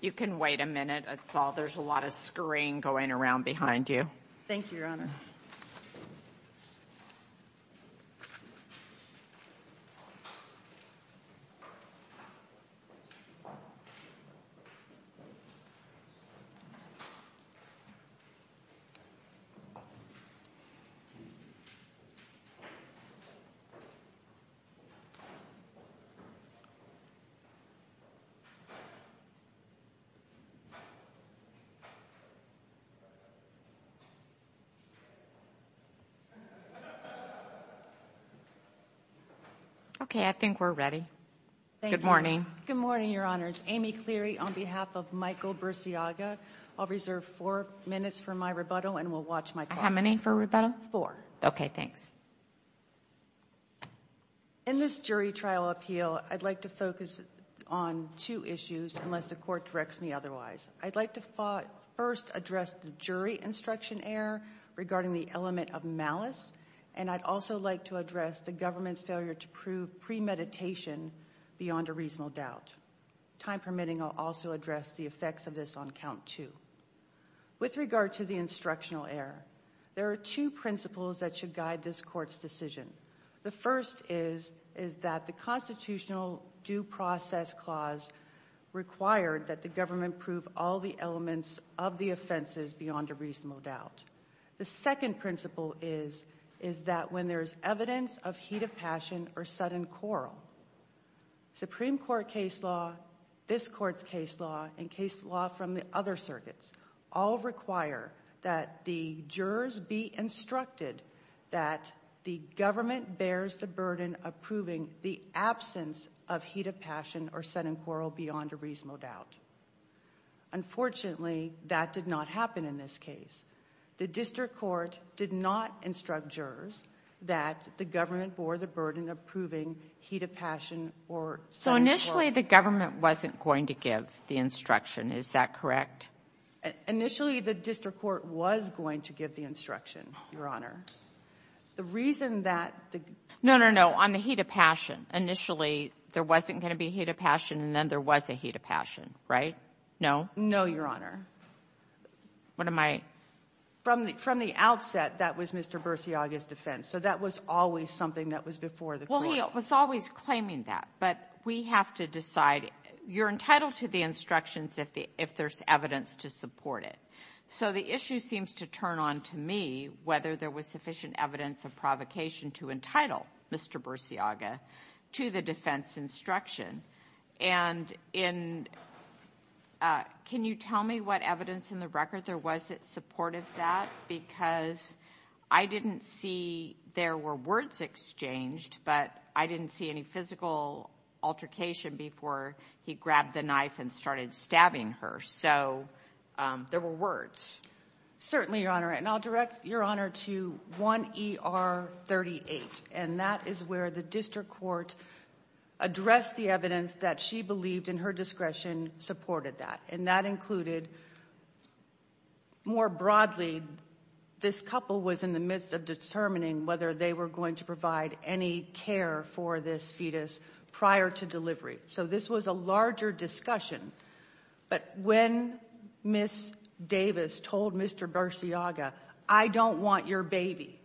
You can wait a minute, it's all, there's a lot of screen going around behind you. Thank you, Your Honor. Okay, I think we're ready. Good morning. Good morning, Your Honors. Amy Cleary on behalf of Michael Burciaga. I'll reserve four minutes for my rebuttal and we'll watch my call. How many for rebuttal? Okay, thanks. In this jury trial appeal, I'd like to focus on two issues unless the court directs me otherwise. I'd like to first address the jury instruction error regarding the element of malice and I'd also like to address the government's failure to prove premeditation beyond a reasonable doubt. Time permitting, I'll also address the effects of this on count two. With regard to the instructional error, there are two principles that should guide this court's decision. The first is that the constitutional due process clause required that the government prove all the elements of the offenses beyond a reasonable doubt. The second principle is that when there's evidence of heat of passion or sudden quarrel, Supreme Court case law, this court's case law, and case law from the other circuits all require that the jurors be instructed that the government bears the burden of proving the absence of heat of passion or sudden quarrel beyond a reasonable doubt. Unfortunately, that did not happen in this case. The district court did not instruct jurors that the government bore the burden of proving heat of passion or sudden quarrel. So initially, the government wasn't going to give the instruction. Is that correct? Initially, the district court was going to give the instruction, Your Honor. The reason that the ---- No, no, no. On the heat of passion. Initially, there wasn't going to be heat of passion and then there was a heat of passion. Right? No? No, Your Honor. What am I ---- From the outset, that was Mr. Bersiaga's defense. So that was always something that was before the court. Well, he was always claiming that. But we have to decide. You're entitled to the instructions if there's evidence to support it. So the issue seems to turn on to me whether there was sufficient evidence of provocation to entitle Mr. Bersiaga to the defense instruction. And in ---- can you tell me what evidence in the record there was that supported that because I didn't see there were words exchanged, but I didn't see any physical altercation before he grabbed the knife and started stabbing her. So there were words. Certainly, Your Honor. And I'll direct Your Honor to 1 ER 38, and that is where the district court addressed the evidence that she believed in her discretion supported that. And that included more broadly this couple was in the midst of determining whether they were going to provide any care for this fetus prior to delivery. So this was a larger discussion. But when Ms. Davis told Mr. Bersiaga, I don't want your baby,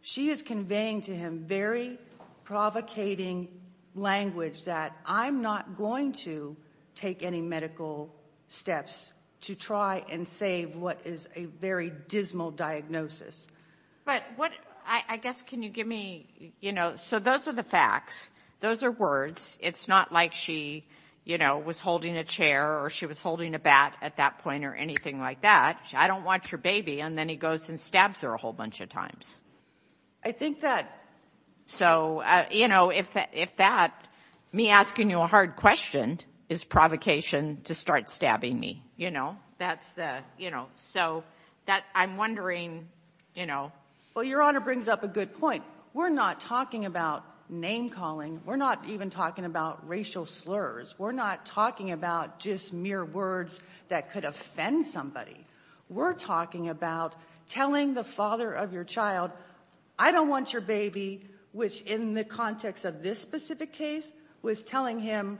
she is conveying to him very provocating language that I'm not going to take any medical steps to try and save what is a very dismal diagnosis. But what ---- I guess can you give me, you know, so those are the facts. Those are words. It's not like she, you know, was holding a chair or she was holding a bat at that point or anything like that. I don't want your baby. And then he goes and stabs her a whole bunch of times. I think that ---- So, you know, if that ---- me asking you a hard question is provocation to start stabbing me, you know. That's the, you know, so that I'm wondering, you know. Well, Your Honor brings up a good point. We're not talking about name calling. We're not even talking about racial slurs. We're not talking about just mere words that could offend somebody. We're talking about telling the father of your child, I don't want your baby, which in the context of this specific case was telling him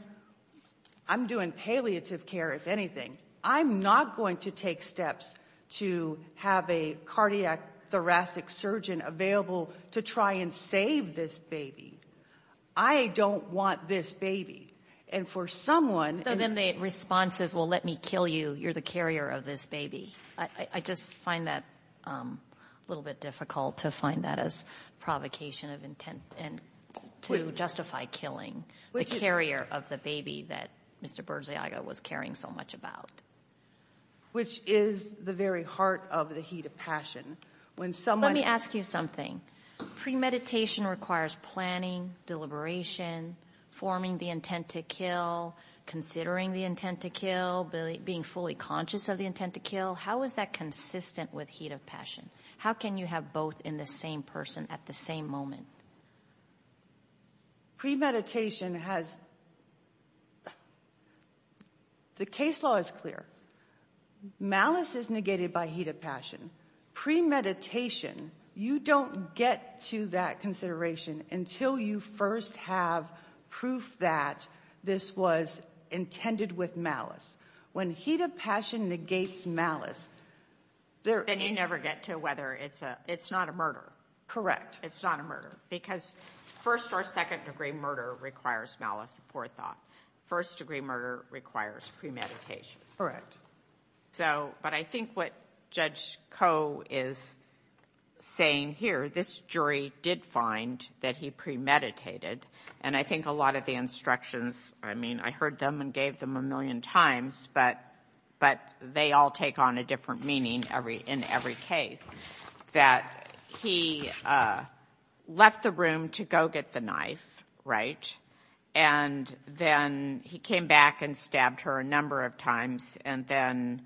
I'm doing palliative care, if anything. I'm not going to take steps to have a cardiac thoracic surgeon available to try and save this baby. I don't want this baby. And for someone ---- So then the response is, well, let me kill you. You're the carrier of this baby. I just find that a little bit difficult to find that as provocation of intent and to justify killing the carrier of the baby that Mr. Berziaga was caring so much about. Which is the very heart of the heat of passion. When someone ---- Let me ask you something. Premeditation requires planning, deliberation, forming the intent to kill, considering the intent to kill, being fully conscious of the intent to kill. How is that consistent with heat of passion? How can you have both in the same person at the same moment? Premeditation has ---- The case law is clear. Malice is negated by heat of passion. Premeditation, you don't get to that consideration until you first have proof that this was intended with malice. When heat of passion negates malice, there ---- Then you never get to whether it's a ---- it's not a murder. Correct. It's not a murder. Because first or second-degree murder requires malice before thought. First-degree murder requires premeditation. Correct. So, but I think what Judge Koh is saying here, this jury did find that he premeditated, and I think a lot of the instructions, I mean, I heard them and gave them a million times, but they all take on a different meaning in every case, that he left the room to go get the knife, right? And then he came back and stabbed her a number of times, and then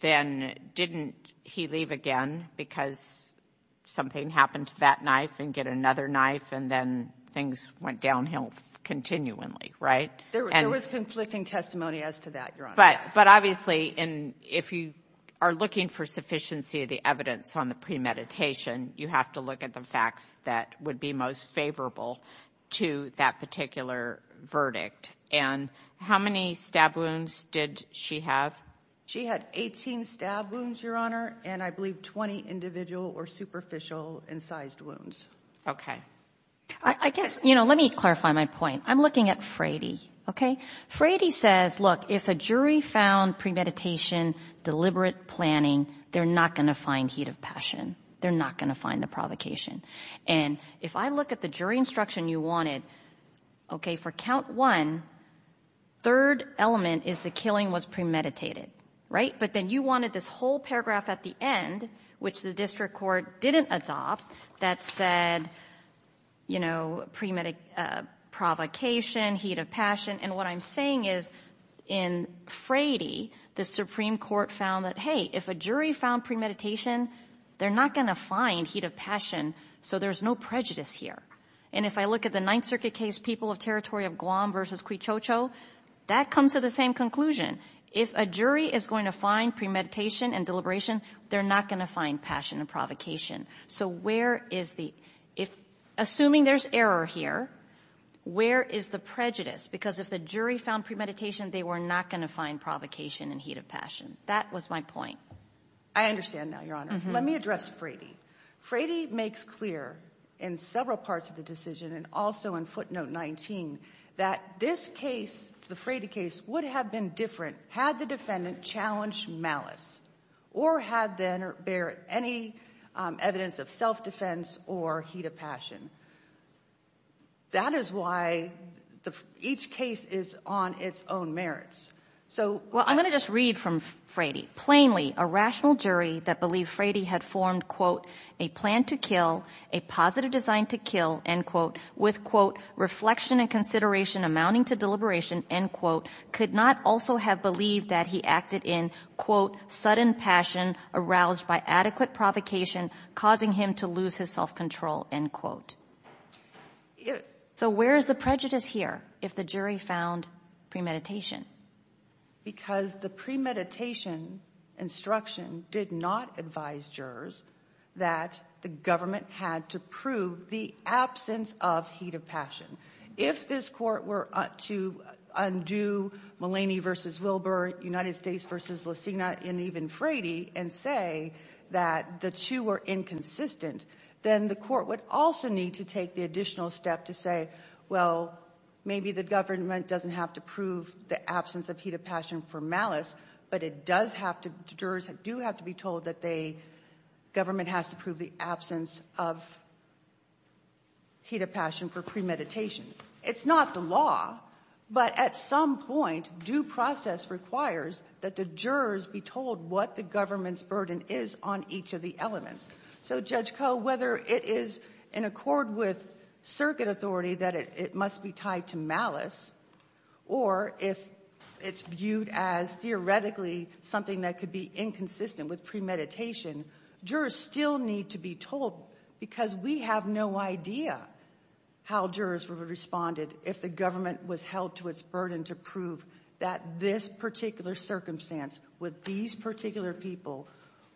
didn't he leave again because something happened to that knife and get another knife, and then things went downhill continually, right? There was conflicting testimony as to that, Your Honor. But obviously, if you are looking for sufficiency of the evidence on the premeditation, you have to look at the facts that would be most favorable to that particular verdict. And how many stab wounds did she have? She had 18 stab wounds, Your Honor, and I believe 20 individual or superficial incised wounds. Okay. I guess, you know, let me clarify my point. I'm looking at Frady, okay? Frady says, look, if a jury found premeditation, deliberate planning, they're not going to find heat of passion. They're not going to find the provocation. And if I look at the jury instruction you wanted, okay, for count one, third element is the killing was premeditated, right? But then you wanted this whole paragraph at the end, which the district court didn't adopt, that said, you know, provocation, heat of passion. And what I'm saying is in Frady, the Supreme Court found that, hey, if a jury found premeditation, they're not going to find heat of passion, so there's no prejudice here. And if I look at the Ninth Circuit case, People of Territory of Guam v. Quichocho, that comes to the same conclusion. If a jury is going to find premeditation and deliberation, they're not going to find passion and provocation. So where is the – if – assuming there's error here, where is the prejudice? Because if the jury found premeditation, they were not going to find provocation and heat of passion. That was my point. I understand now, Your Honor. Let me address Frady. Frady makes clear in several parts of the decision and also in footnote 19 that this case, the Frady case, would have been different had the defendant challenged malice or had there been any evidence of self-defense or heat of passion. That is why each case is on its own merits. Well, I'm going to just read from Frady. Plainly, a rational jury that believed Frady had formed, quote, a plan to kill, a positive design to kill, end quote, with, quote, reflection and consideration amounting to deliberation, end quote, could not also have believed that he acted in, quote, sudden passion aroused by adequate provocation causing him to lose his self-control, end quote. So where is the prejudice here if the jury found premeditation? Because the premeditation instruction did not advise jurors that the government had to prove the absence of heat of passion. If this Court were to undo Mulaney v. Wilbur, United States v. Lucina, and even Frady and say that the two were inconsistent, then the Court would also need to take the additional step to say, well, maybe the government doesn't have to prove the absence of heat of passion for malice, but it does have to, jurors do have to be told that they, government has to prove the absence of heat of passion for premeditation. It's not the law, but at some point due process requires that the jurors be told what the government's burden is on each of the elements. So, Judge Koh, whether it is in accord with circuit authority that it must be tied to malice, or if it's viewed as theoretically something that could be inconsistent with premeditation, jurors still need to be told because we have no idea how jurors would have responded if the government was held to its burden to prove that this particular circumstance with these particular people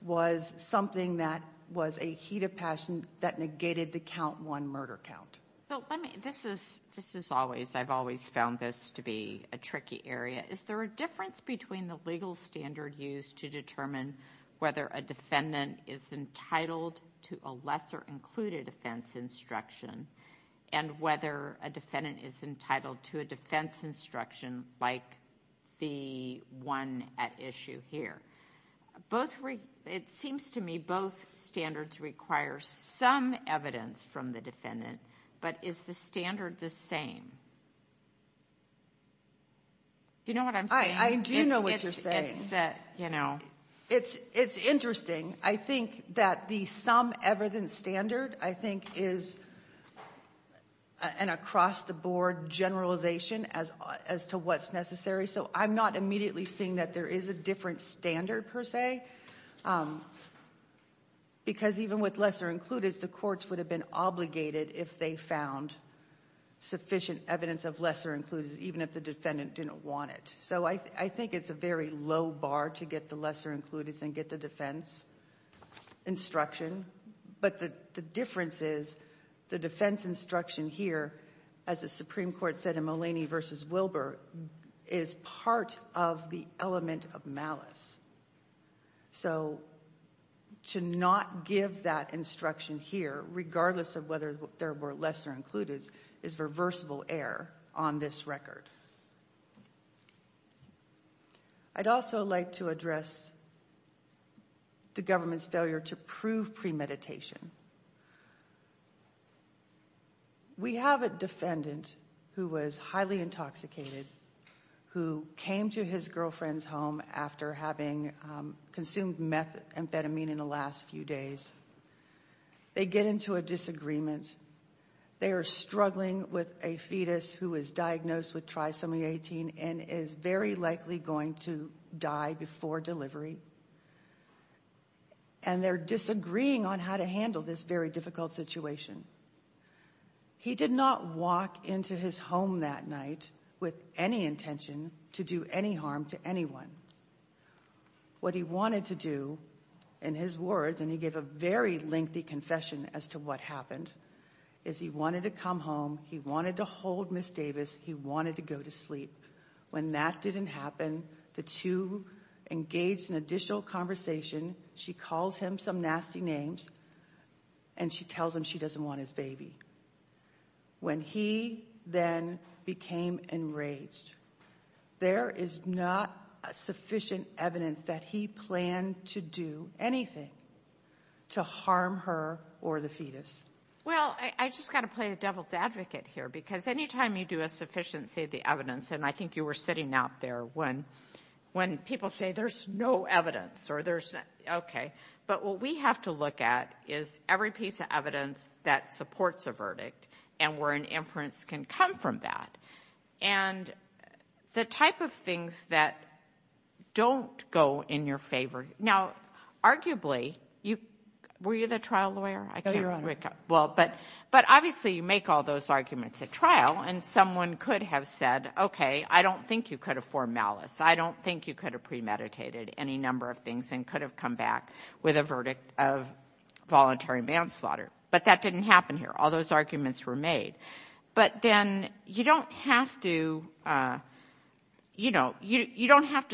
was something that was a heat of passion that negated the count one murder count. This is always, I've always found this to be a tricky area. Is there a difference between the legal standard used to determine whether a defendant is entitled to a lesser included offense instruction and whether a defendant is entitled to a defense instruction like the one at issue here? It seems to me both standards require some evidence from the defendant, but is the standard the same? Do you know what I'm saying? I do know what you're saying. It's interesting. I think that the sum evidence standard, I think, is an across-the-board generalization as to what's necessary. So I'm not immediately seeing that there is a different standard, per se, because even with lesser included, the courts would have been obligated if they found sufficient evidence of lesser included, even if the defendant didn't want it. So I think it's a very low bar to get the lesser included and get the defense instruction, but the difference is the defense instruction here, as the Supreme Court said in Mulaney v. Wilbur, is part of the element of malice. So to not give that instruction here, regardless of whether there were lesser included, is reversible error on this record. I'd also like to address the government's failure to prove premeditation. We have a defendant who was highly intoxicated, who came to his girlfriend's home after having consumed methamphetamine in the last few days. They get into a disagreement. They are struggling with a fetus who was diagnosed with trisomy 18 and is very likely going to die before delivery, and they're disagreeing on how to handle this very difficult situation. He did not walk into his home that night with any intention to do any harm to anyone. What he wanted to do, in his words, and he gave a very lengthy confession as to what happened, is he wanted to come home. He wanted to hold Ms. Davis. He wanted to go to sleep. When that didn't happen, the two engaged in additional conversation. She calls him some nasty names, and she tells him she doesn't want his baby. When he then became enraged, there is not sufficient evidence that he planned to do anything to harm her or the fetus. Well, I just got to play the devil's advocate here, because any time you do a sufficiency of the evidence, and I think you were sitting out there when people say there's no evidence or there's not. Okay, but what we have to look at is every piece of evidence that supports a verdict and where an inference can come from that, and the type of things that don't go in your favor. Now, arguably, were you the trial lawyer? No, Your Honor. Well, but obviously you make all those arguments at trial, and someone could have said, okay, I don't think you could have formed malice. I don't think you could have premeditated any number of things and could have come back with a verdict of voluntary manslaughter. But that didn't happen here. All those arguments were made. But then you don't have to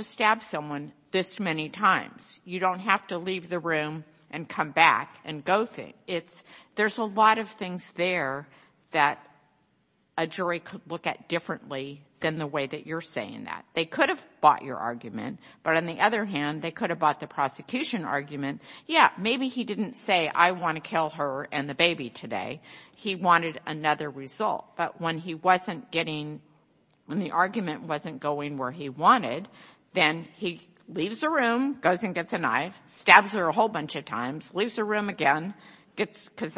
stab someone this many times. You don't have to leave the room and come back and go think. There's a lot of things there that a jury could look at differently than the way that you're saying that. They could have bought your argument. But on the other hand, they could have bought the prosecution argument. Yeah, maybe he didn't say, I want to kill her and the baby today. He wanted another result. But when he wasn't getting, when the argument wasn't going where he wanted, then he leaves the room, goes and gets a knife, stabs her a whole bunch of times, leaves the room again because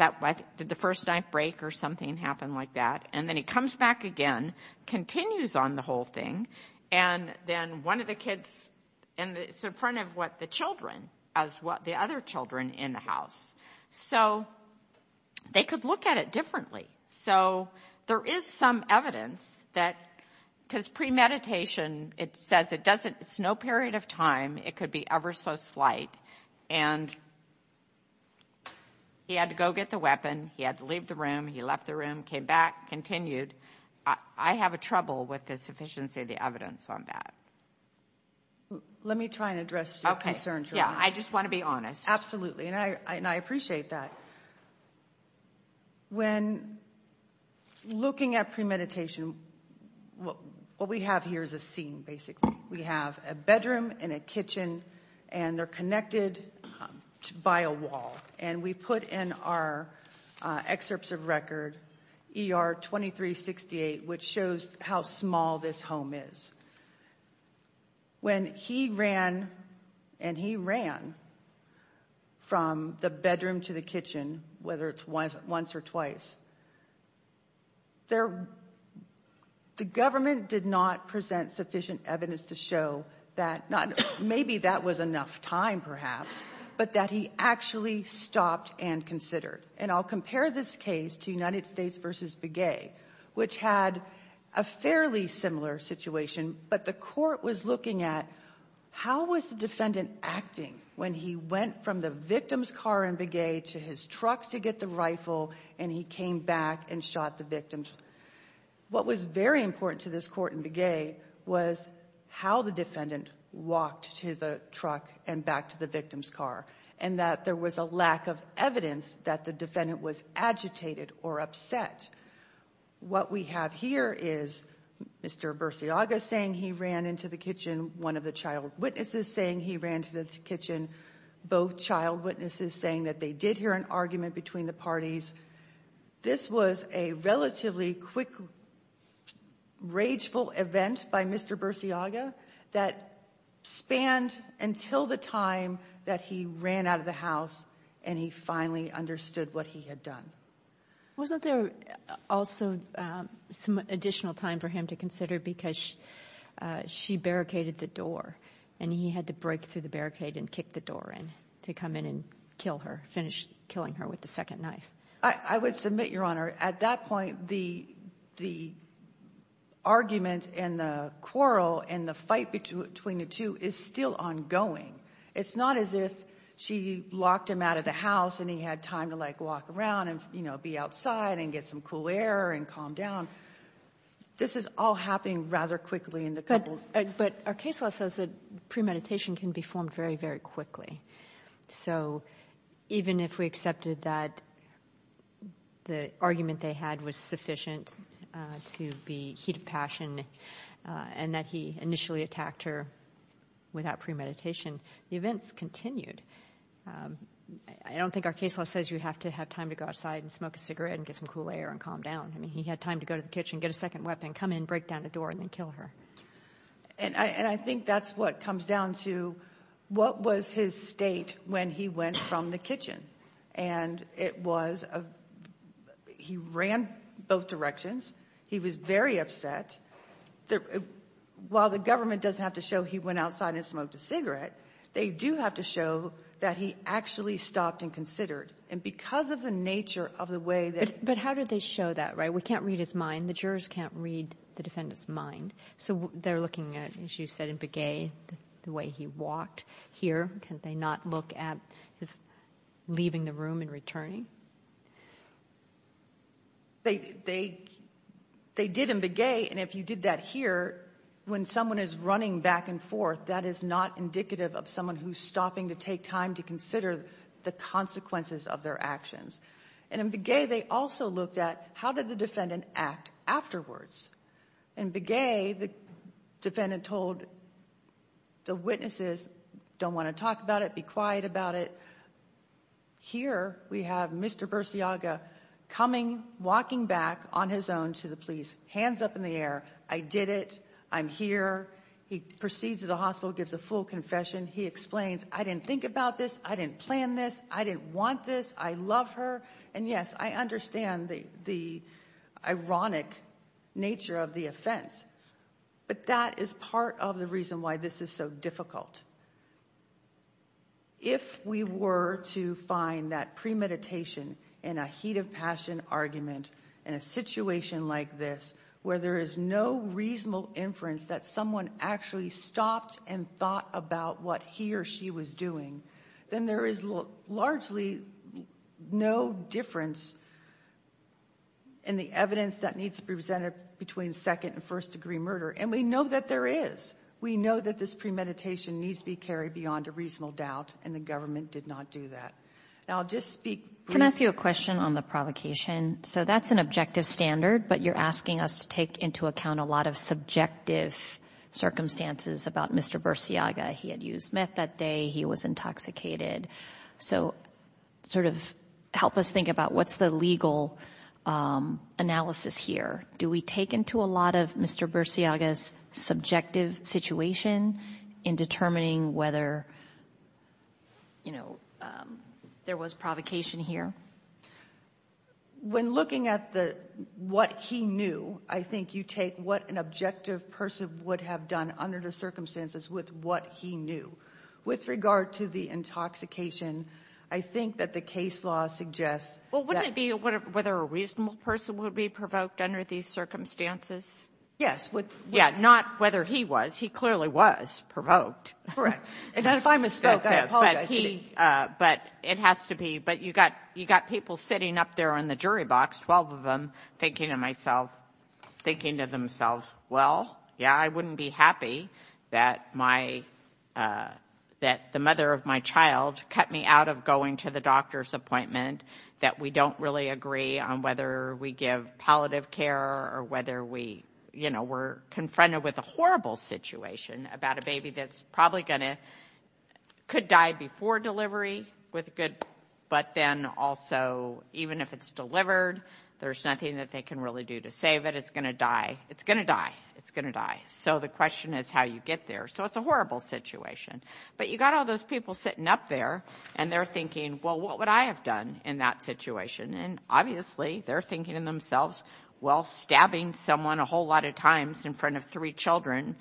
the first knife break or something happened like that, and then he comes back again, continues on the whole thing, and then one of the kids, and it's in front of what the children, the other children in the house. So they could look at it differently. So there is some evidence that because premeditation, it says it's no period of time. It could be ever so slight. And he had to go get the weapon. He had to leave the room. He left the room. He came back, continued. I have trouble with the sufficiency of the evidence on that. Let me try and address your concerns. Yeah, I just want to be honest. Absolutely, and I appreciate that. When looking at premeditation, what we have here is a scene, basically. We have a bedroom and a kitchen, and they're connected by a wall. And we put in our excerpts of record ER 2368, which shows how small this home is. When he ran, and he ran from the bedroom to the kitchen, whether it's once or twice, the government did not present sufficient evidence to show that maybe that was enough time perhaps, but that he actually stopped and considered. And I'll compare this case to United States v. Begay, which had a fairly similar situation, but the court was looking at how was the defendant acting when he went from the victim's car in Begay to his truck to get the rifle, and he came back and shot the victims. What was very important to this court in Begay was how the defendant walked to the truck and back to the victim's car, and that there was a lack of evidence that the defendant was agitated or upset. What we have here is Mr. Bersiaga saying he ran into the kitchen, one of the child witnesses saying he ran to the kitchen, both child witnesses saying that they did hear an argument between the parties. This was a relatively quick, rageful event by Mr. Bersiaga that spanned until the time that he ran out of the house and he finally understood what he had done. Wasn't there also some additional time for him to consider because she barricaded the door and he had to break through the barricade and kick the door in to come in and kill her, finish killing her with the second knife? I would submit, Your Honor, at that point, the argument and the quarrel and the fight between the two is still ongoing. It's not as if she locked him out of the house and he had time to walk around and be outside and get some cool air and calm down. This is all happening rather quickly in the couple. But our case law says that premeditation can be formed very, very quickly. So even if we accepted that the argument they had was sufficient to be heat of passion and that he initially attacked her without premeditation, the events continued. I don't think our case law says you have to have time to go outside and smoke a cigarette and get some cool air and calm down. I mean, he had time to go to the kitchen, get a second weapon, come in, break down the door, and then kill her. And I think that's what comes down to what was his state when he went from the kitchen. And it was a – he ran both directions. He was very upset. While the government doesn't have to show he went outside and smoked a cigarette, they do have to show that he actually stopped and considered. And because of the nature of the way that – But how did they show that, right? We can't read his mind. The jurors can't read the defendant's mind. So they're looking at, as you said, in Begay, the way he walked here. Can't they not look at his leaving the room and returning? They did in Begay, and if you did that here, when someone is running back and forth, that is not indicative of someone who's stopping to take time to consider the consequences of their actions. And in Begay, they also looked at how did the defendant act afterwards. In Begay, the defendant told the witnesses, don't want to talk about it, be quiet about it. Here we have Mr. Bersiaga coming, walking back on his own to the police, hands up in the air. I did it. I'm here. He proceeds to the hospital, gives a full confession. He explains, I didn't think about this. I didn't plan this. I didn't want this. I love her. And, yes, I understand the ironic nature of the offense, but that is part of the reason why this is so difficult. If we were to find that premeditation in a heat of passion argument in a situation like this, where there is no reasonable inference that someone actually stopped and thought about what he or she was doing, then there is largely no difference in the evidence that needs to be presented between second- and first-degree murder. And we know that there is. We know that this premeditation needs to be carried beyond a reasonable doubt, and the government did not do that. Now, I'll just speak briefly. Can I ask you a question on the provocation? So that's an objective standard, but you're asking us to take into account a lot of subjective circumstances about Mr. Bersiaga. He had used meth that day. He was intoxicated. So sort of help us think about what's the legal analysis here. Do we take into a lot of Mr. Bersiaga's subjective situation in determining whether, you know, there was provocation here? When looking at the what he knew, I think you take what an objective person would have done under the circumstances with what he knew. With regard to the intoxication, I think that the case law suggests that ---- Well, wouldn't it be whether a reasonable person would be provoked under these circumstances? Yes. Yeah. Not whether he was. He clearly was provoked. Correct. And if I misspoke, I apologize to you. It has to be, but you've got people sitting up there on the jury box, 12 of them, thinking to themselves, well, yeah, I wouldn't be happy that the mother of my child cut me out of going to the doctor's appointment, that we don't really agree on whether we give palliative care or whether we're confronted with a horrible situation about a baby that's probably going to ---- could die before delivery, but then also, even if it's delivered, there's nothing that they can really do to save it. It's going to die. It's going to die. It's going to die. So the question is how you get there. So it's a horrible situation. But you've got all those people sitting up there, and they're thinking, well, what would I have done in that situation? And obviously, they're thinking to themselves, well, stabbing someone a whole lot of times in front of three children,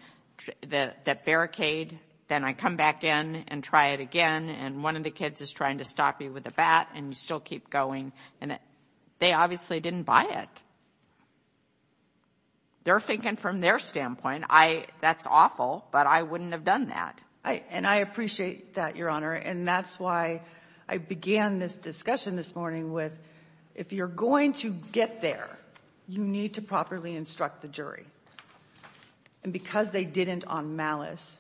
that barricade, then I come back in and try it again, and one of the kids is trying to stop you with a bat, and you still keep going, and they obviously didn't buy it. They're thinking from their standpoint, that's awful, but I wouldn't have done that. And I appreciate that, Your Honor. And that's why I began this discussion this morning with if you're going to get there, you need to properly instruct the jury. And because they didn't on malice,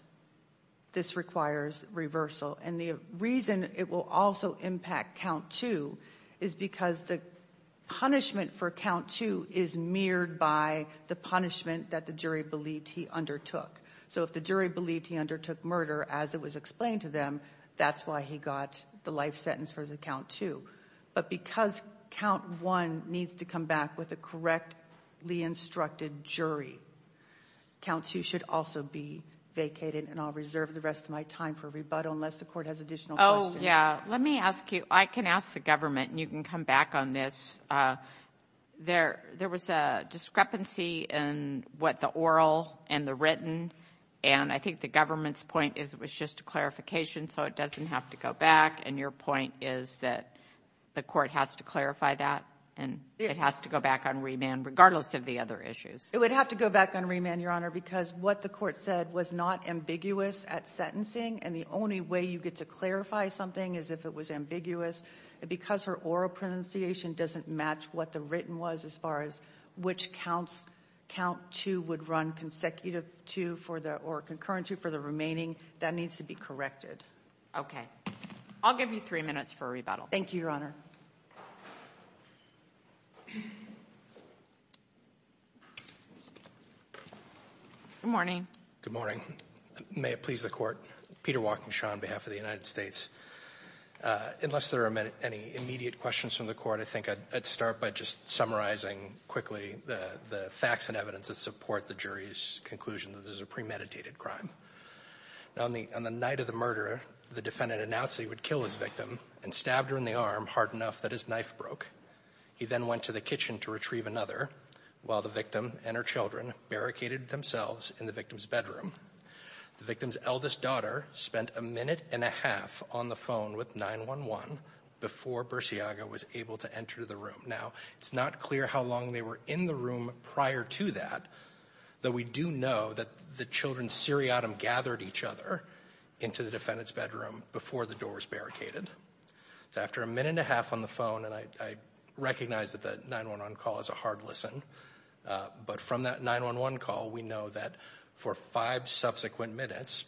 this requires reversal. And the reason it will also impact count two is because the punishment for count two is mirrored by the punishment that the jury believed he undertook. So if the jury believed he undertook murder as it was explained to them, that's why he got the life sentence for the count two. But because count one needs to come back with a correctly instructed jury, count two should also be vacated, and I'll reserve the rest of my time for rebuttal unless the court has additional questions. Oh, yeah. Let me ask you. I can ask the government, and you can come back on this. There was a discrepancy in what the oral and the written, and I think the government's point is it was just a clarification so it doesn't have to go back, and your point is that the court has to clarify that and it has to go back on remand regardless of the other issues. It would have to go back on remand, Your Honor, because what the court said was not ambiguous at sentencing, and the only way you get to clarify something is if it was ambiguous. Because her oral pronunciation doesn't match what the written was as far as which count two would run consecutive to or concurrent to for the remaining, that needs to be corrected. Okay. I'll give you three minutes for rebuttal. Thank you, Your Honor. Good morning. Good morning. May it please the court. Peter Walkinshaw on behalf of the United States. Unless there are any immediate questions from the court, I think I'd start by just summarizing quickly the facts and evidence that support the jury's conclusion that this is a premeditated crime. On the night of the murder, the defendant announced that he would kill his victim and stabbed her in the arm hard enough that his knife broke. He then went to the kitchen to retrieve another while the victim and her children barricaded themselves in the victim's bedroom. The victim's eldest daughter spent a minute and a half on the phone with 911 before Bursiaga was able to enter the room. Now, it's not clear how long they were in the room prior to that, but we do know that the children's seriatim gathered each other into the defendant's bedroom before the door was barricaded. After a minute and a half on the phone, and I recognize that the 911 call is a hard listen, but from that 911 call, we know that for five subsequent minutes,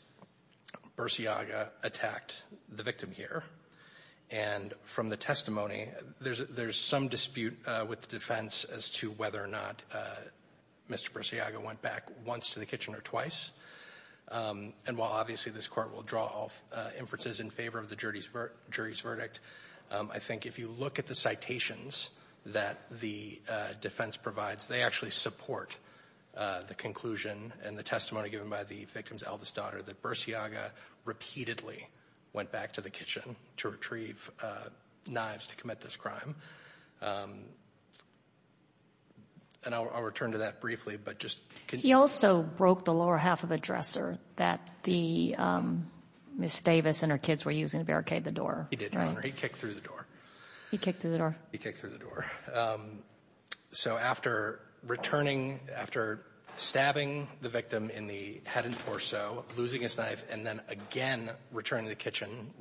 Bursiaga attacked the victim here. And from the testimony, there's some dispute with the defense as to whether or not Mr. Bursiaga went back once to the kitchen or twice. And while obviously this Court will draw inferences in favor of the jury's verdict, I think if you look at the citations that the defense provides, they actually support the conclusion and the testimony given by the victim's eldest daughter that Bursiaga repeatedly went back to the kitchen to retrieve knives to commit this crime. And I'll return to that briefly, but just continue. He also broke the lower half of a dresser that Ms. Davis and her kids were using to barricade the door. He did, Your Honor. He kicked through the door. He kicked through the door. He kicked through the door. So after returning, after stabbing the victim in the head and torso, losing his knife, and then again returning to the kitchen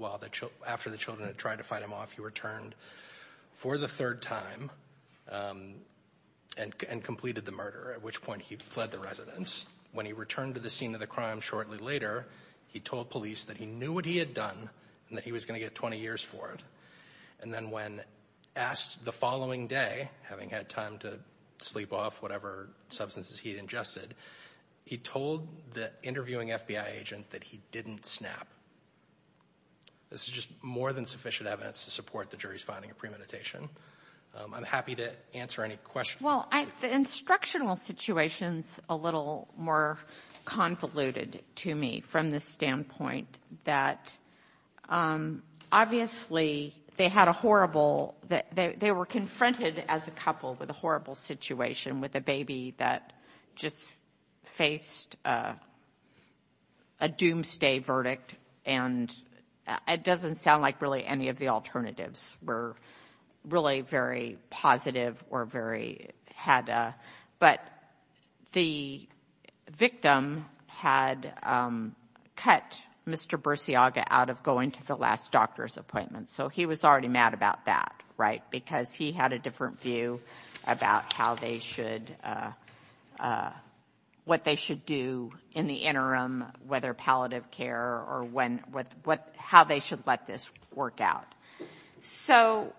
after the children had tried to fight him off, he returned for the third time and completed the murder, at which point he fled the residence. When he returned to the scene of the crime shortly later, he told police that he knew what he had done and that he was going to get 20 years for it. And then when asked the following day, having had time to sleep off whatever substances he had ingested, he told the interviewing FBI agent that he didn't snap. This is just more than sufficient evidence to support the jury's finding of premeditation. I'm happy to answer any questions. Well, the instructional situation is a little more convoluted to me from the standpoint that, obviously, they were confronted as a couple with a horrible situation with a baby that just faced a doomsday verdict. And it doesn't sound like really any of the alternatives were really very positive or very had a – but the victim had cut Mr. Bursiaga out of going to the last doctor's appointment. So he was already mad about that, right, because he had a different view about how they should – what they should do in the interim, whether palliative care or when – how they should let this work out. So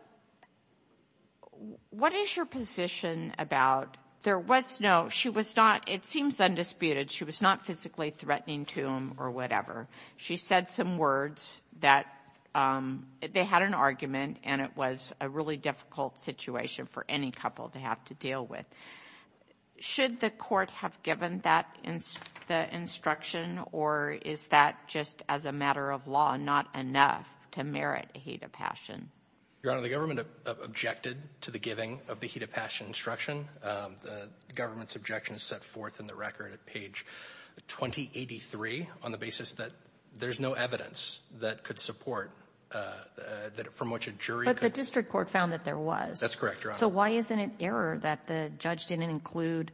what is your position about – there was no – she was not – it seems undisputed. She was not physically threatening to him or whatever. She said some words that – they had an argument, and it was a really difficult situation for any couple to have to deal with. Should the court have given that – the instruction, or is that just as a matter of law not enough to merit a heat of passion? Your Honor, the government objected to the giving of the heat of passion instruction. The government's objection is set forth in the record at page 2083 on the basis that there's no evidence that could support – that from which a jury could – But the district court found that there was. That's correct, Your Honor. So why isn't it error that the judge didn't include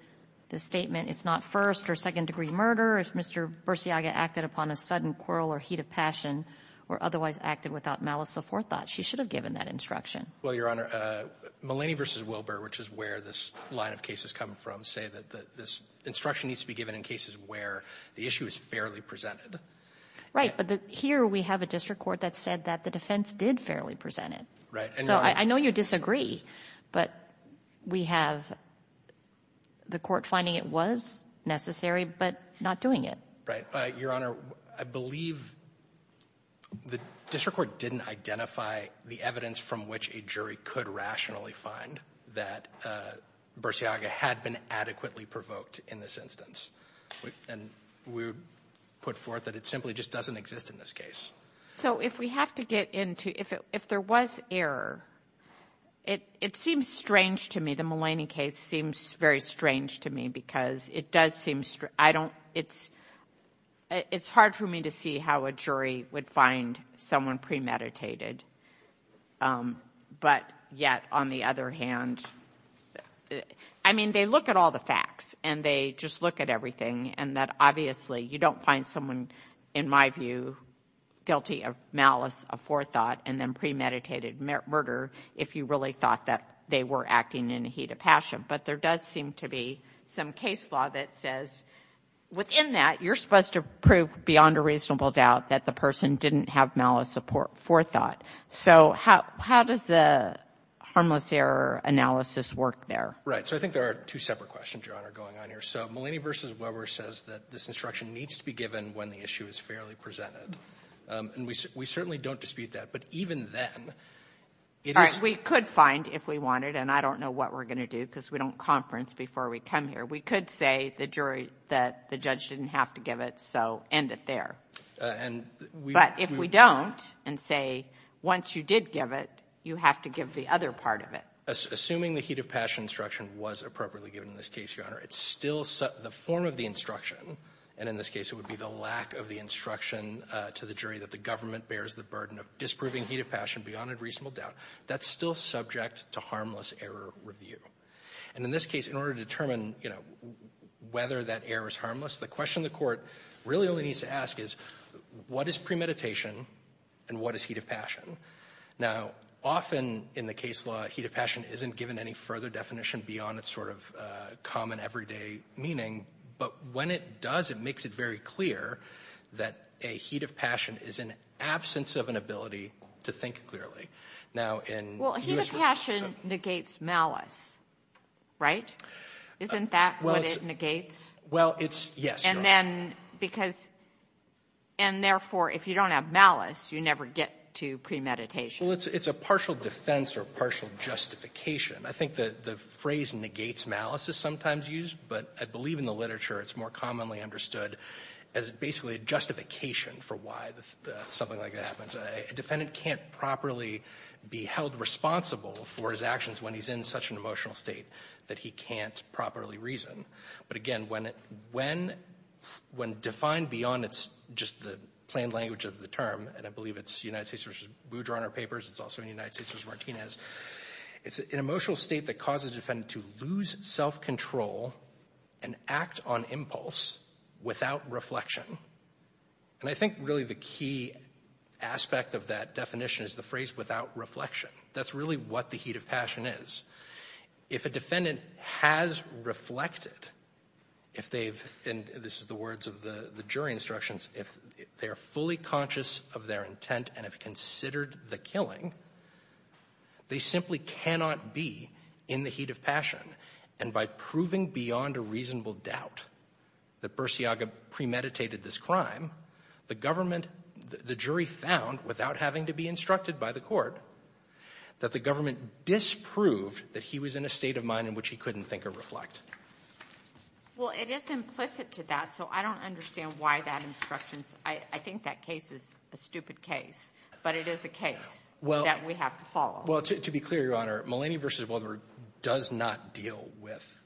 the statement, it's not first- or second-degree murder, if Mr. Bursiaga acted upon a sudden quarrel or heat of passion or otherwise acted without malice aforethought? She should have given that instruction. Well, Your Honor, Mulaney v. Wilbur, which is where this line of cases come from, say that this instruction needs to be given in cases where the issue is fairly presented. Right. But here we have a district court that said that the defense did fairly present it. Right. So I know you disagree, but we have the court finding it was necessary but not doing it. Your Honor, I believe the district court didn't identify the evidence from which a jury could rationally find that Bursiaga had been adequately provoked in this instance. And we would put forth that it simply just doesn't exist in this case. So if we have to get into, if there was error, it seems strange to me, the Mulaney case seems very strange to me because it does seem, I don't, it's hard for me to see how a jury would find someone premeditated. But yet, on the other hand, I mean, they look at all the facts and they just look at everything, and that obviously you don't find someone, in my view, guilty of malice of forethought and then premeditated murder if you really thought that they were acting in the heat of passion. But there does seem to be some case law that says within that, you're supposed to prove beyond a reasonable doubt that the person didn't have malice of forethought. So how does the harmless error analysis work there? Right. So I think there are two separate questions, Your Honor, going on here. So Mulaney v. Weber says that this instruction needs to be given when the issue is fairly presented. And we certainly don't dispute that. But even then, it is — We could find, if we wanted, and I don't know what we're going to do because we don't conference before we come here. We could say to the jury that the judge didn't have to give it, so end it there. And we — But if we don't and say, once you did give it, you have to give the other part of it. Assuming the heat of passion instruction was appropriately given in this case, Your Honor, it's still the form of the instruction. And in this case, it would be the lack of the instruction to the jury that the government bears the burden of disproving heat of passion beyond a reasonable doubt. That's still subject to harmless error review. And in this case, in order to determine, you know, whether that error is harmless, the question the Court really only needs to ask is, what is premeditation and what is heat of passion? Now, often in the case of law, heat of passion isn't given any further definition beyond its sort of common everyday meaning. But when it does, it makes it very clear that a heat of passion is an absence of an ability to think clearly. Now, in — Well, heat of passion negates malice, right? Isn't that what it negates? Well, it's — yes, Your Honor. And then because — and therefore, if you don't have malice, you never get to premeditation. Well, it's a partial defense or partial justification. I think the phrase negates malice is sometimes used, but I believe in the literature it's more commonly understood as basically a justification for why something like that happens. A defendant can't properly be held responsible for his actions when he's in such an emotional state that he can't properly reason. But again, when it — when defined beyond it's just the plain language of the term, and I believe it's United States versus Boudreau in our papers. It's also in United States versus Martinez. It's an emotional state that causes a defendant to lose self-control and act on impulse without reflection. And I think really the key aspect of that definition is the phrase without reflection. That's really what the heat of passion is. If a defendant has reflected, if they've — and this is the words of the jury instructions — if they are fully conscious of their intent and have considered the killing, they simply cannot be in the heat of passion. And by proving beyond a reasonable doubt that Bursiaga premeditated this crime, the government — the jury found, without having to be instructed by the court, that the government disproved that he was in a state of mind in which he couldn't think or reflect. Well, it is implicit to that, so I don't understand why that instruction — I think that case is a stupid case, but it is a case that we have to follow. Well, to be clear, Your Honor, Mulaney v. Boudreau does not deal with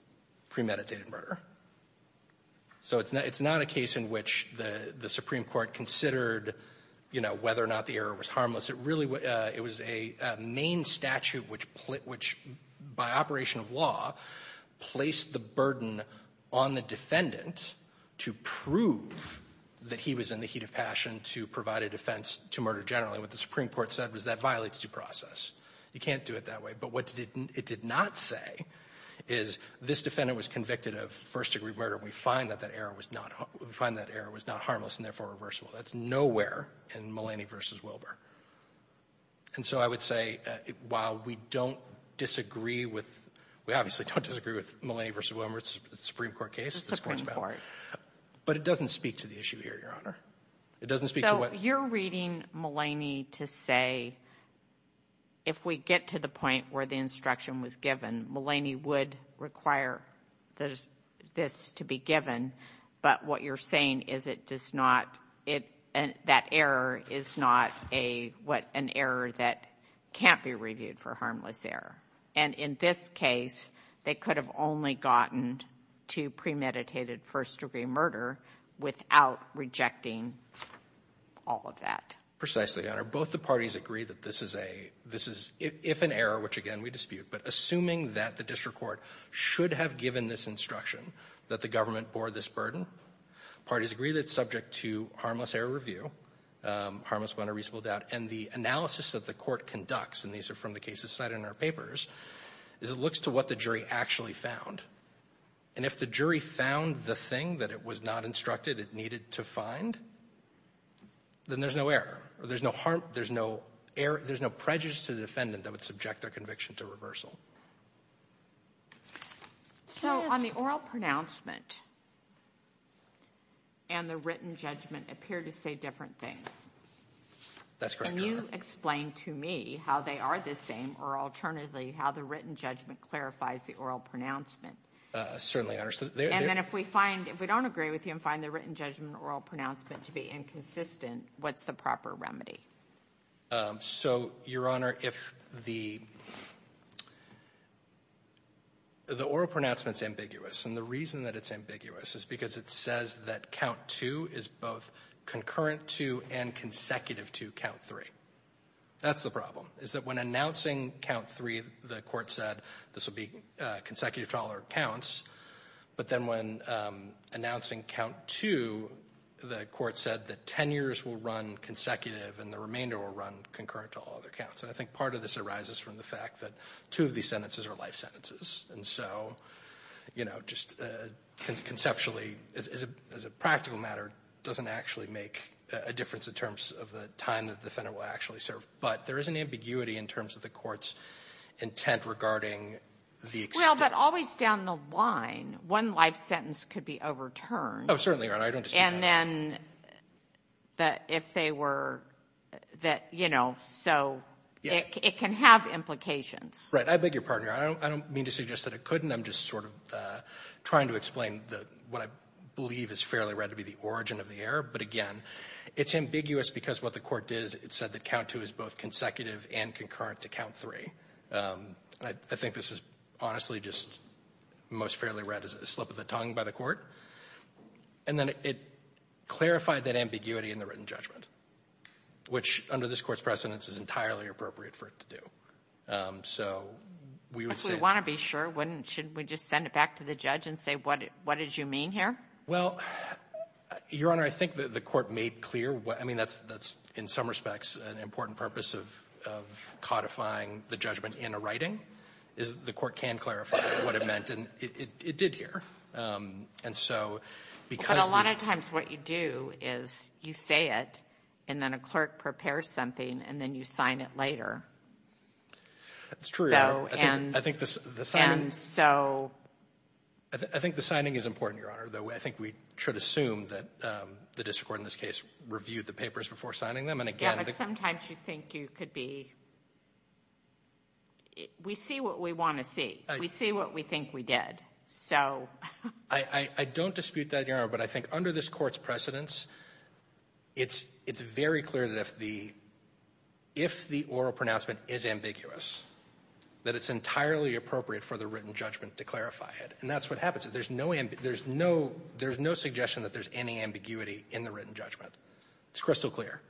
premeditated murder. So it's not a case in which the Supreme Court considered, you know, whether or not the error was harmless. It really — it was a main statute which, by operation of law, placed the burden on the defendant to prove that he was in the heat of passion to provide a defense to murder generally. What the Supreme Court said was that violates due process. You can't do it that way. But what it did not say is this defendant was convicted of first-degree murder, and we find that that error was not — we find that error was not harmless and therefore reversible. That's nowhere in Mulaney v. Wilbur. And so I would say, while we don't disagree with — we obviously don't disagree with Mulaney v. Wilbur. It's a Supreme Court case. It's a Supreme Court. But it doesn't speak to the issue here, Your Honor. It doesn't speak to what — So you're reading Mulaney to say, if we get to the point where the instruction was given, Mulaney would require this to be given. But what you're saying is it does not — that error is not a — what — an error that can't be reviewed for harmless error. And in this case, they could have only gotten to premeditated first-degree murder without rejecting all of that. Precisely, Your Honor. Both the parties agree that this is a — this is — if an error, which, again, we dispute, but assuming that the district court should have given this instruction that the government bore this burden, parties agree that it's subject to harmless error review, harmless gun or reasonable doubt. And the analysis that the Court conducts, and these are from the cases cited in our papers, is it looks to what the jury actually found. And if the jury found the thing that it was not instructed it needed to find, then there's no error. There's no harm — there's no prejudice to the defendant that would subject their conviction to reversal. So on the oral pronouncement, and the written judgment appear to say different things. That's correct, Your Honor. Can you explain to me how they are the same, or alternatively, how the written judgment clarifies the oral pronouncement? Certainly, Your Honor. And then if we find — if we don't agree with you and find the written judgment and oral pronouncement to be inconsistent, what's the proper remedy? So, Your Honor, if the — the oral pronouncement is ambiguous, and the reason that it's ambiguous is because it says that count two is both concurrent to and consecutive to count three. That's the problem, is that when announcing count three, the Court said this will be consecutive trial or counts. But then when announcing count two, the Court said that 10 years will run consecutive and the remainder will run concurrent to all other counts. And I think part of this arises from the fact that two of these sentences are life sentences. And so, you know, just conceptually, as a practical matter, doesn't actually make a difference in terms of the time that the defendant will actually serve. But there is an ambiguity in terms of the Court's intent regarding the — Well, but always down the line, one life sentence could be overturned. Oh, certainly, Your Honor. I don't dispute that. And then that if they were — that, you know, so it can have implications. Right. I beg your pardon, Your Honor. I don't mean to suggest that it couldn't. I'm just sort of trying to explain what I believe is fairly right to be the origin of the error. But again, it's ambiguous because what the Court did is it said that count two is both consecutive and concurrent to count three. I think this is honestly just most fairly right as a slip of the tongue by the Court. And then it clarified that ambiguity in the written judgment, which under this Court's precedence is entirely appropriate for it to do. So we would say — If we want to be sure, wouldn't — should we just send it back to the judge and say what did you mean here? Well, Your Honor, I think the Court made clear what — I mean, that's in some respects an important purpose of codifying the judgment in a writing, is the Court can clarify what it meant. And it did here. And so because — But a lot of times what you do is you say it and then a clerk prepares something and then you sign it later. That's true, Your Honor. So and — I think the signing — And so — I think the signing is important, Your Honor, though I think we should assume that the district court in this case reviewed the papers before signing them. And again — Yeah, but sometimes you think you could be — we see what we want to see. We see what we think we did. So — I don't dispute that, Your Honor. But I think under this Court's precedence, it's very clear that if the oral pronouncement is ambiguous, that it's entirely appropriate for the written judgment to clarify it. And that's what happens. There's no — there's no suggestion that there's any ambiguity in the written judgment. It's crystal clear.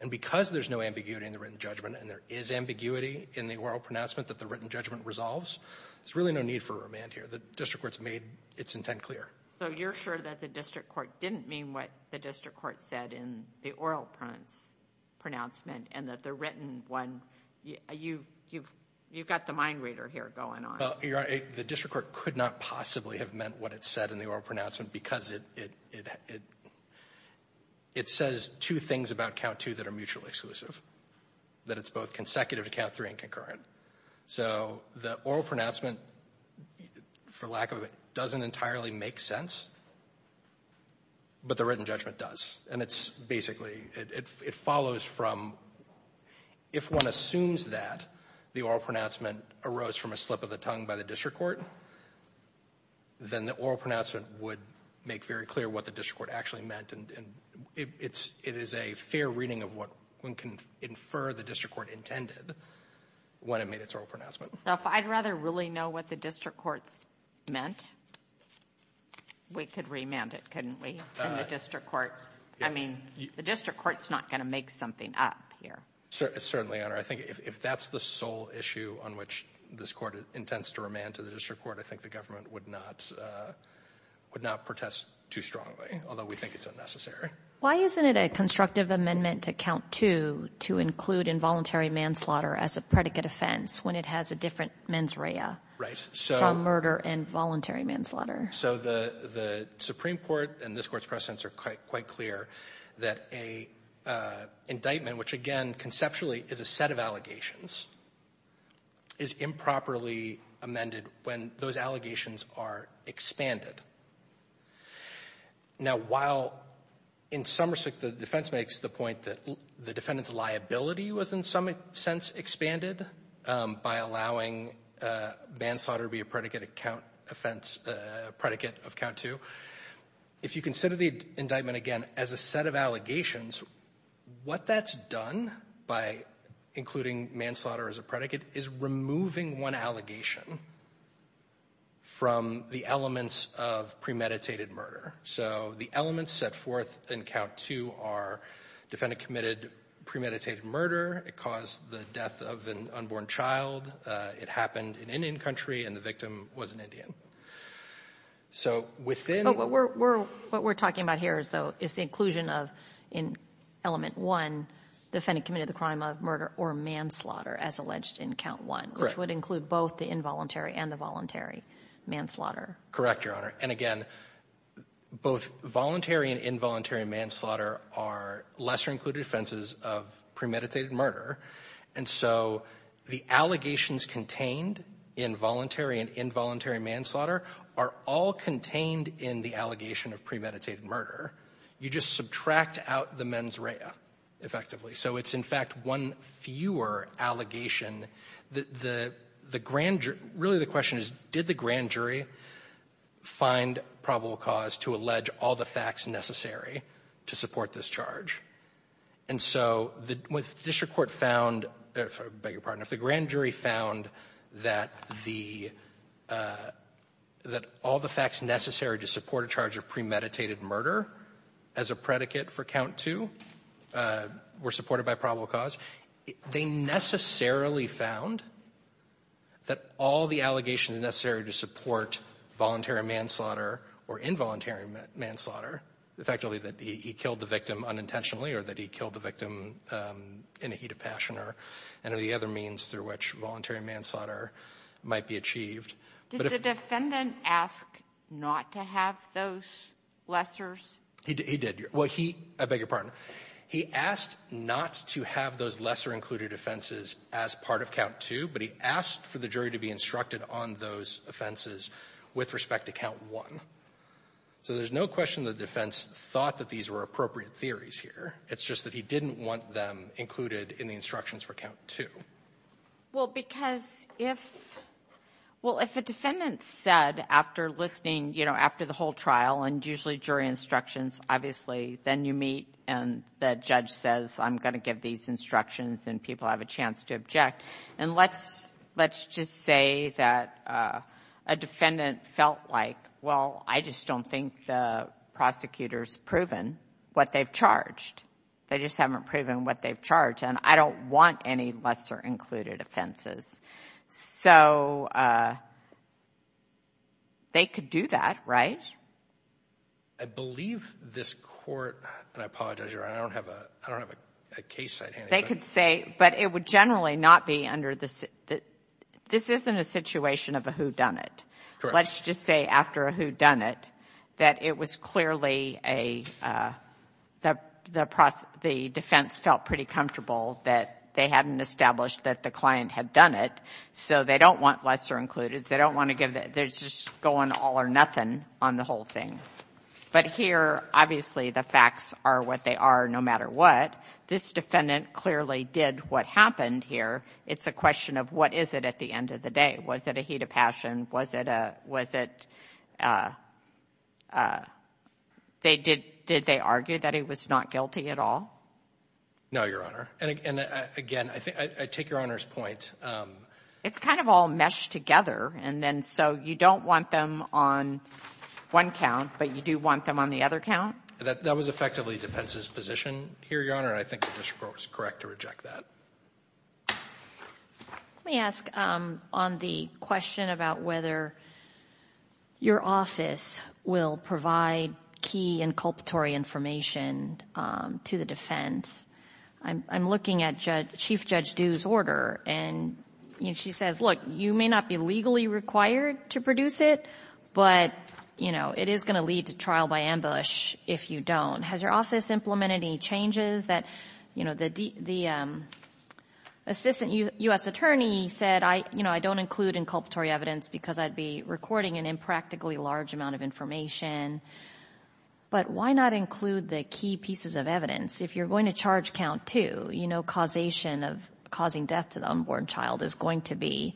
And because there's no ambiguity in the written judgment and there is ambiguity in the oral pronouncement that the written judgment resolves, there's really no need for remand here. The district court's made its intent clear. So you're sure that the district court didn't mean what the district court said in the oral pronouncement and that the written one — you've got the mind reader here going on. Well, Your Honor, the district court could not possibly have meant what it said in the oral pronouncement because it says two things about count two that are mutually exclusive, that it's both consecutive to count three and concurrent. So the oral pronouncement, for lack of a — doesn't entirely make sense, but the written judgment does. And it's basically — it follows from — if one assumes that the oral pronouncement arose from a slip of the tongue by the district court, then the oral pronouncement would make very clear what the district court actually meant. And it's — it is a fair reading of what one can infer the district court intended when it made its oral pronouncement. Now, if I'd rather really know what the district court's meant, we could remand it, couldn't we, in the district court? I mean, the district court's not going to make something up here. Certainly, Your Honor. I think if that's the sole issue on which this Court intends to remand to the district court, I think the government would not protest too strongly, although we think it's unnecessary. Why isn't it a constructive amendment to count two to include involuntary manslaughter as a predicate offense when it has a different mens rea from murder and voluntary manslaughter? So the Supreme Court and this Court's precedents are quite clear that an indictment, which, again, conceptually is a set of allegations, is improperly amended when those allegations are expanded. Now, while in some respects the defense makes the point that the defendant's liability was in some sense expanded by allowing manslaughter to be a predicate account offense, predicate of count two, if you consider the indictment, again, as a set of allegations, what that's done by including manslaughter as a predicate is removing one allegation from the elements of premeditated murder. So the elements set forth in count two are defendant committed premeditated murder, it caused the death of an unborn child, it happened in Indian country, and the victim was an Indian. So within the ---- But what we're talking about here, though, is the inclusion of, in element one, defendant committed the crime of murder or manslaughter as alleged in count one, which would include both the involuntary and the voluntary manslaughter. Correct, Your Honor. And, again, both voluntary and involuntary manslaughter are lesser-included offenses of premeditated murder. And so the allegations contained in voluntary and involuntary manslaughter are all contained in the allegation of premeditated murder. You just subtract out the mens rea, effectively. So it's, in fact, one fewer allegation that the grand jury ---- really, the question is, did the grand jury find probable cause to allege all the facts necessary to support this charge? And so the ---- with district court found ---- I beg your pardon. Did the grand jury found that the ---- that all the facts necessary to support a charge of premeditated murder as a predicate for count two were supported by probable cause? They necessarily found that all the allegations necessary to support voluntary manslaughter or involuntary manslaughter, effectively, that he killed the victim unintentionally or that he killed the victim in a heat passion or any of the other means through which voluntary manslaughter might be achieved. But if ---- Sotomayor, did the defendant ask not to have those lessers? He did. Well, he ---- I beg your pardon. He asked not to have those lesser-included offenses as part of count two, but he asked for the jury to be instructed on those offenses with respect to count one. So there's no question the defense thought that these were appropriate theories here. It's just that he didn't want them included in the instructions for count two. Well, because if ---- well, if a defendant said after listening, you know, after the whole trial, and usually jury instructions, obviously, then you meet and the judge says, I'm going to give these instructions, and people have a chance to object. And let's ---- let's just say that a defendant felt like, well, I just don't think the prosecutor's proven what they've charged. They just haven't proven what they've charged, and I don't want any lesser-included offenses. So they could do that, right? I believe this Court ---- and I apologize, Your Honor, I don't have a case at hand. They could say, but it would generally not be under the ---- this isn't a situation of a whodunit. Correct. Well, let's just say after a whodunit that it was clearly a ---- the defense felt pretty comfortable that they hadn't established that the client had done it. So they don't want lesser-included. They don't want to give the ---- they're just going all or nothing on the whole thing. But here, obviously, the facts are what they are no matter what. This defendant clearly did what happened here. It's a question of what is it at the end of the day. Was it a heat of passion? Was it a ---- was it a ---- they did ---- did they argue that he was not guilty at all? No, Your Honor. And again, I think ---- I take Your Honor's point. It's kind of all meshed together, and then so you don't want them on one count, but you do want them on the other count? That was effectively defense's position here, Your Honor, and I think the district was correct to reject that. Let me ask on the question about whether your office will provide key inculpatory information to the defense. I'm looking at Chief Judge Due's order, and she says, look, you may not be legally required to produce it, but, you know, it is going to lead to trial by ambush if you don't. Has your office implemented any changes that, you know, the assistant U.S. attorney said, you know, I don't include inculpatory evidence because I'd be recording an impractically large amount of information, but why not include the key pieces of evidence? If you're going to charge count two, you know causation of causing death to the unborn child is going to be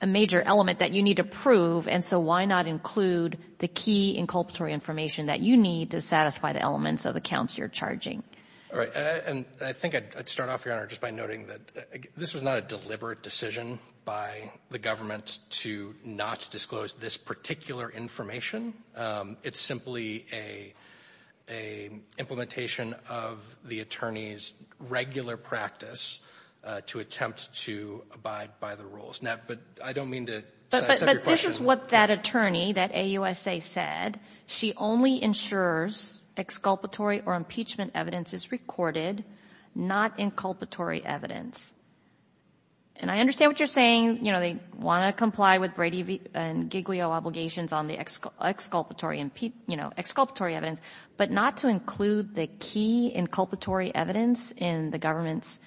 a major element that you need to prove, and so why not include the key inculpatory information that you need to satisfy the elements of the counts you're charging? All right. And I think I'd start off, Your Honor, just by noting that this was not a deliberate decision by the government to not disclose this particular information. It's simply a implementation of the attorney's regular practice to attempt to abide by the rules. Now, but I don't mean to set your question. But this is what that attorney, that AUSA, said. She only ensures exculpatory or impeachment evidence is recorded, not inculpatory evidence. And I understand what you're saying. You know, they want to comply with Brady v. Giglio obligations on the exculpatory and, you know, exculpatory evidence, but not to include the key inculpatory evidence in the government's,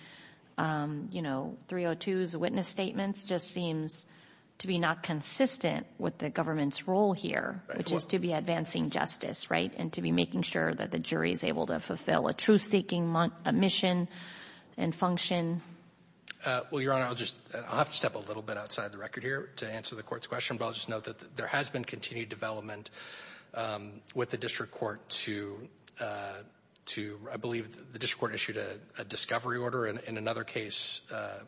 you know, 302's witness statements just seems to be not consistent with the government's role here, which is to be advancing justice, right, and to be making sure that the jury is able to fulfill a truth-seeking mission and function. Well, Your Honor, I'll just — I'll have to step a little bit outside the record here to answer the Court's question, but I'll just note that there has been continued development with the district court to — I believe the district court issued a discovery order in another case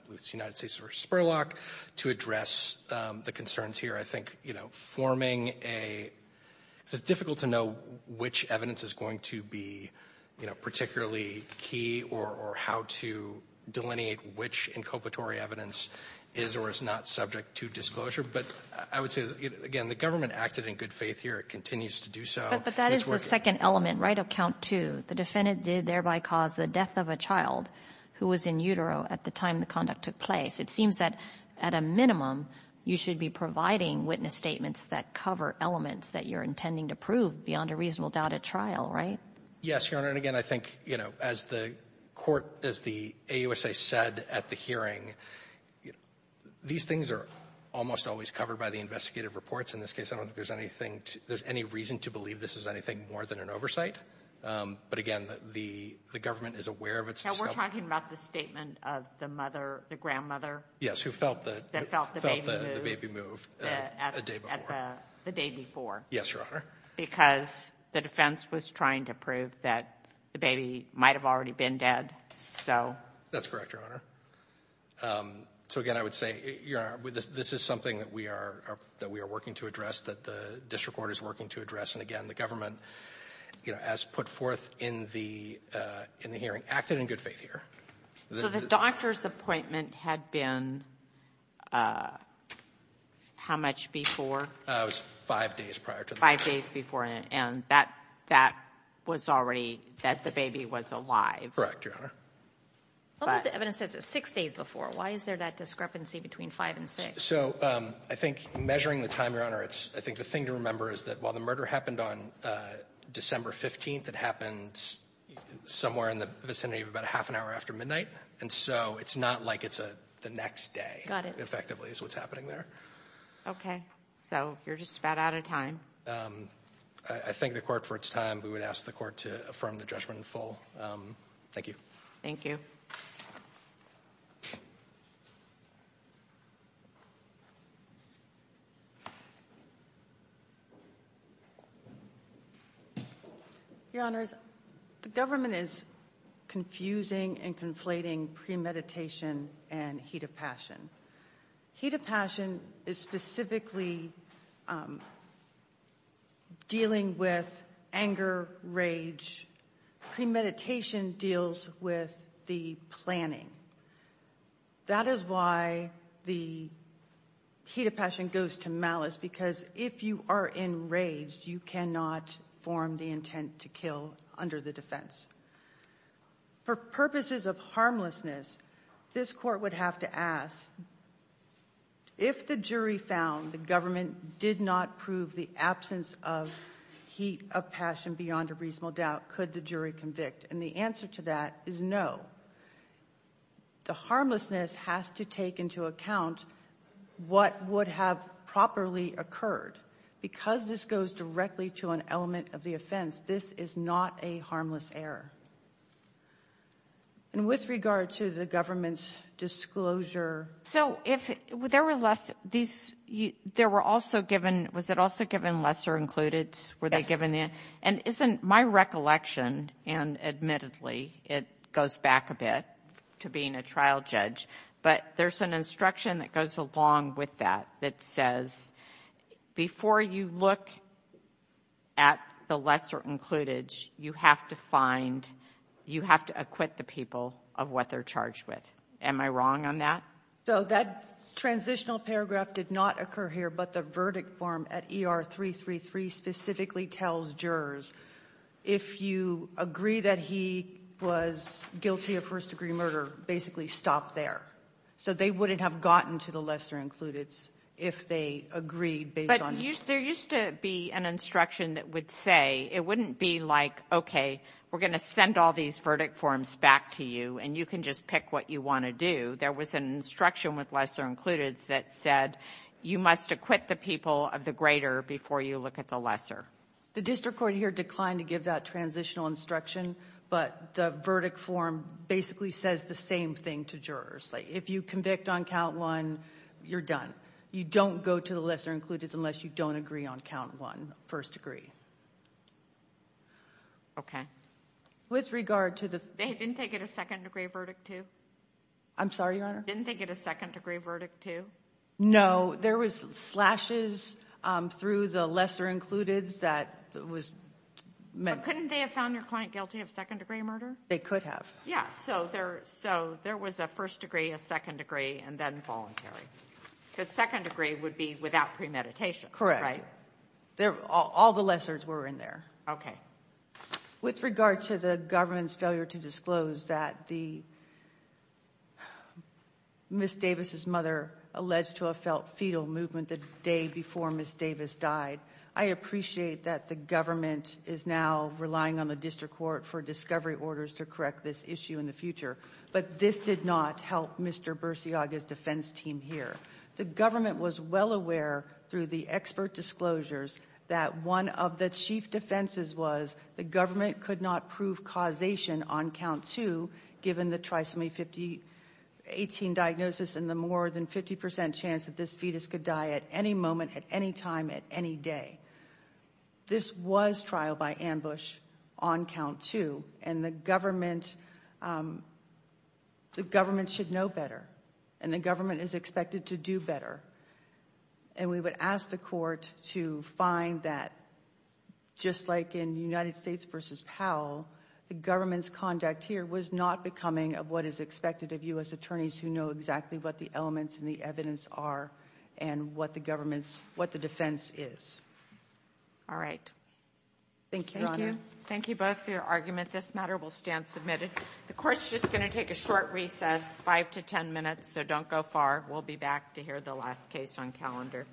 with the United States v. Spurlock to address the concerns here. I think, you know, forming a — it's difficult to know which evidence is going to be, you know, particularly key or how to delineate which inculpatory evidence is or is not subject to disclosure. But I would say, again, the government acted in good faith here. It continues to do so. But that is the second element, right, of count two. The defendant did thereby cause the death of a child who was in utero at the time the conduct took place. It seems that at a minimum, you should be providing witness statements that cover elements that you're intending to prove beyond a reasonable doubt at trial, right? Yes, Your Honor. And again, I think, you know, as the court, as the AUSA said at the hearing, these things are almost always covered by the investigative reports. In this case, I don't think there's any reason to believe this is anything more than an oversight. But again, the government is aware of its — Now, we're talking about the statement of the mother, the grandmother — Yes, who felt the —— that felt the baby move —— felt the baby move a day before. — at the day before. Yes, Your Honor. Because the defense was trying to prove that the baby might have already been dead. So — That's correct, Your Honor. So, again, I would say, Your Honor, this is something that we are working to address, that the district court is working to address. And again, the government, you know, as put forth in the — in the hearing, acted in good faith here. So the doctor's appointment had been how much before? It was five days prior to the — Five days before, and that — that was already — that the baby was alive. Correct, Your Honor. But — But the evidence says it's six days before. Why is there that discrepancy between five and six? So I think measuring the time, Your Honor, it's — I think the thing to remember is that while the murder happened on December 15th, it happened somewhere in the vicinity of about a half an hour after midnight. And so it's not like it's the next day — Got it. — effectively is what's happening there. Okay. So you're just about out of time. I thank the court for its time. We would ask the court to affirm the judgment in full. Thank you. Thank you. Thank you. Your Honors, the government is confusing and conflating premeditation and heat of passion. Heat of passion is specifically dealing with anger, rage. Premeditation deals with the planning. That is why the heat of passion goes to malice, because if you are enraged, you cannot form the intent to kill under the defense. For purposes of harmlessness, this court would have to ask, if the jury found the government did not prove the absence of heat of passion beyond a reasonable doubt, could the jury convict? And the answer to that is no. The harmlessness has to take into account what would have properly occurred. Because this goes directly to an element of the offense, this is not a harmless error. And with regard to the government's disclosure — So if there were less — there were also given — was it also given lesser included? Yes. And isn't my recollection, and admittedly, it goes back a bit to being a trial judge, but there's an instruction that goes along with that that says before you look at the lesser included, you have to find — you have to acquit the people of what they're charged with. Am I wrong on that? So that transitional paragraph did not occur here, but the verdict form at ER-333 specifically tells jurors if you agree that he was guilty of first-degree murder, basically stop there. So they wouldn't have gotten to the lesser included if they agreed based on — But there used to be an instruction that would say — it wouldn't be like, okay, we're going to send all these verdict forms back to you, and you can just pick what you want to do. There was an instruction with lesser included that said you must acquit the people of the greater before you look at the lesser. The district court here declined to give that transitional instruction, but the verdict form basically says the same thing to jurors. If you convict on count one, you're done. You don't go to the lesser included unless you don't agree on count one, first degree. Okay. With regard to the — Didn't they get a second-degree verdict, too? I'm sorry, Your Honor? Didn't they get a second-degree verdict, too? No. There was slashes through the lesser included that was meant — But couldn't they have found their client guilty of second-degree murder? They could have. Yeah. So there was a first degree, a second degree, and then voluntary. Because second degree would be without premeditation, right? All the lessers were in there. Okay. With regard to the government's failure to disclose that the — Ms. Davis' mother alleged to have felt fetal movement the day before Ms. Davis died, I appreciate that the government is now relying on the district court for discovery orders to correct this issue in the future, but this did not help Mr. Bursiaga's defense team here. The government was well aware through the expert disclosures that one of the chief defenses was the government could not prove causation on count two given the trisomy 18 diagnosis and the more than 50 percent chance that this fetus could die at any moment, at any time, at any day. This was trial by ambush on count two. And the government should know better. And the government is expected to do better. And we would ask the court to find that just like in United States v. Powell, the government's conduct here was not becoming of what is expected of U.S. attorneys who know exactly what the elements and the evidence are and what the defense is. All right. Thank you, Your Honor. Thank you. Thank you both for your argument. This matter will stand submitted. The court's just going to take a short recess, five to ten minutes, so don't go far. We'll be back to hear the last case on calendar.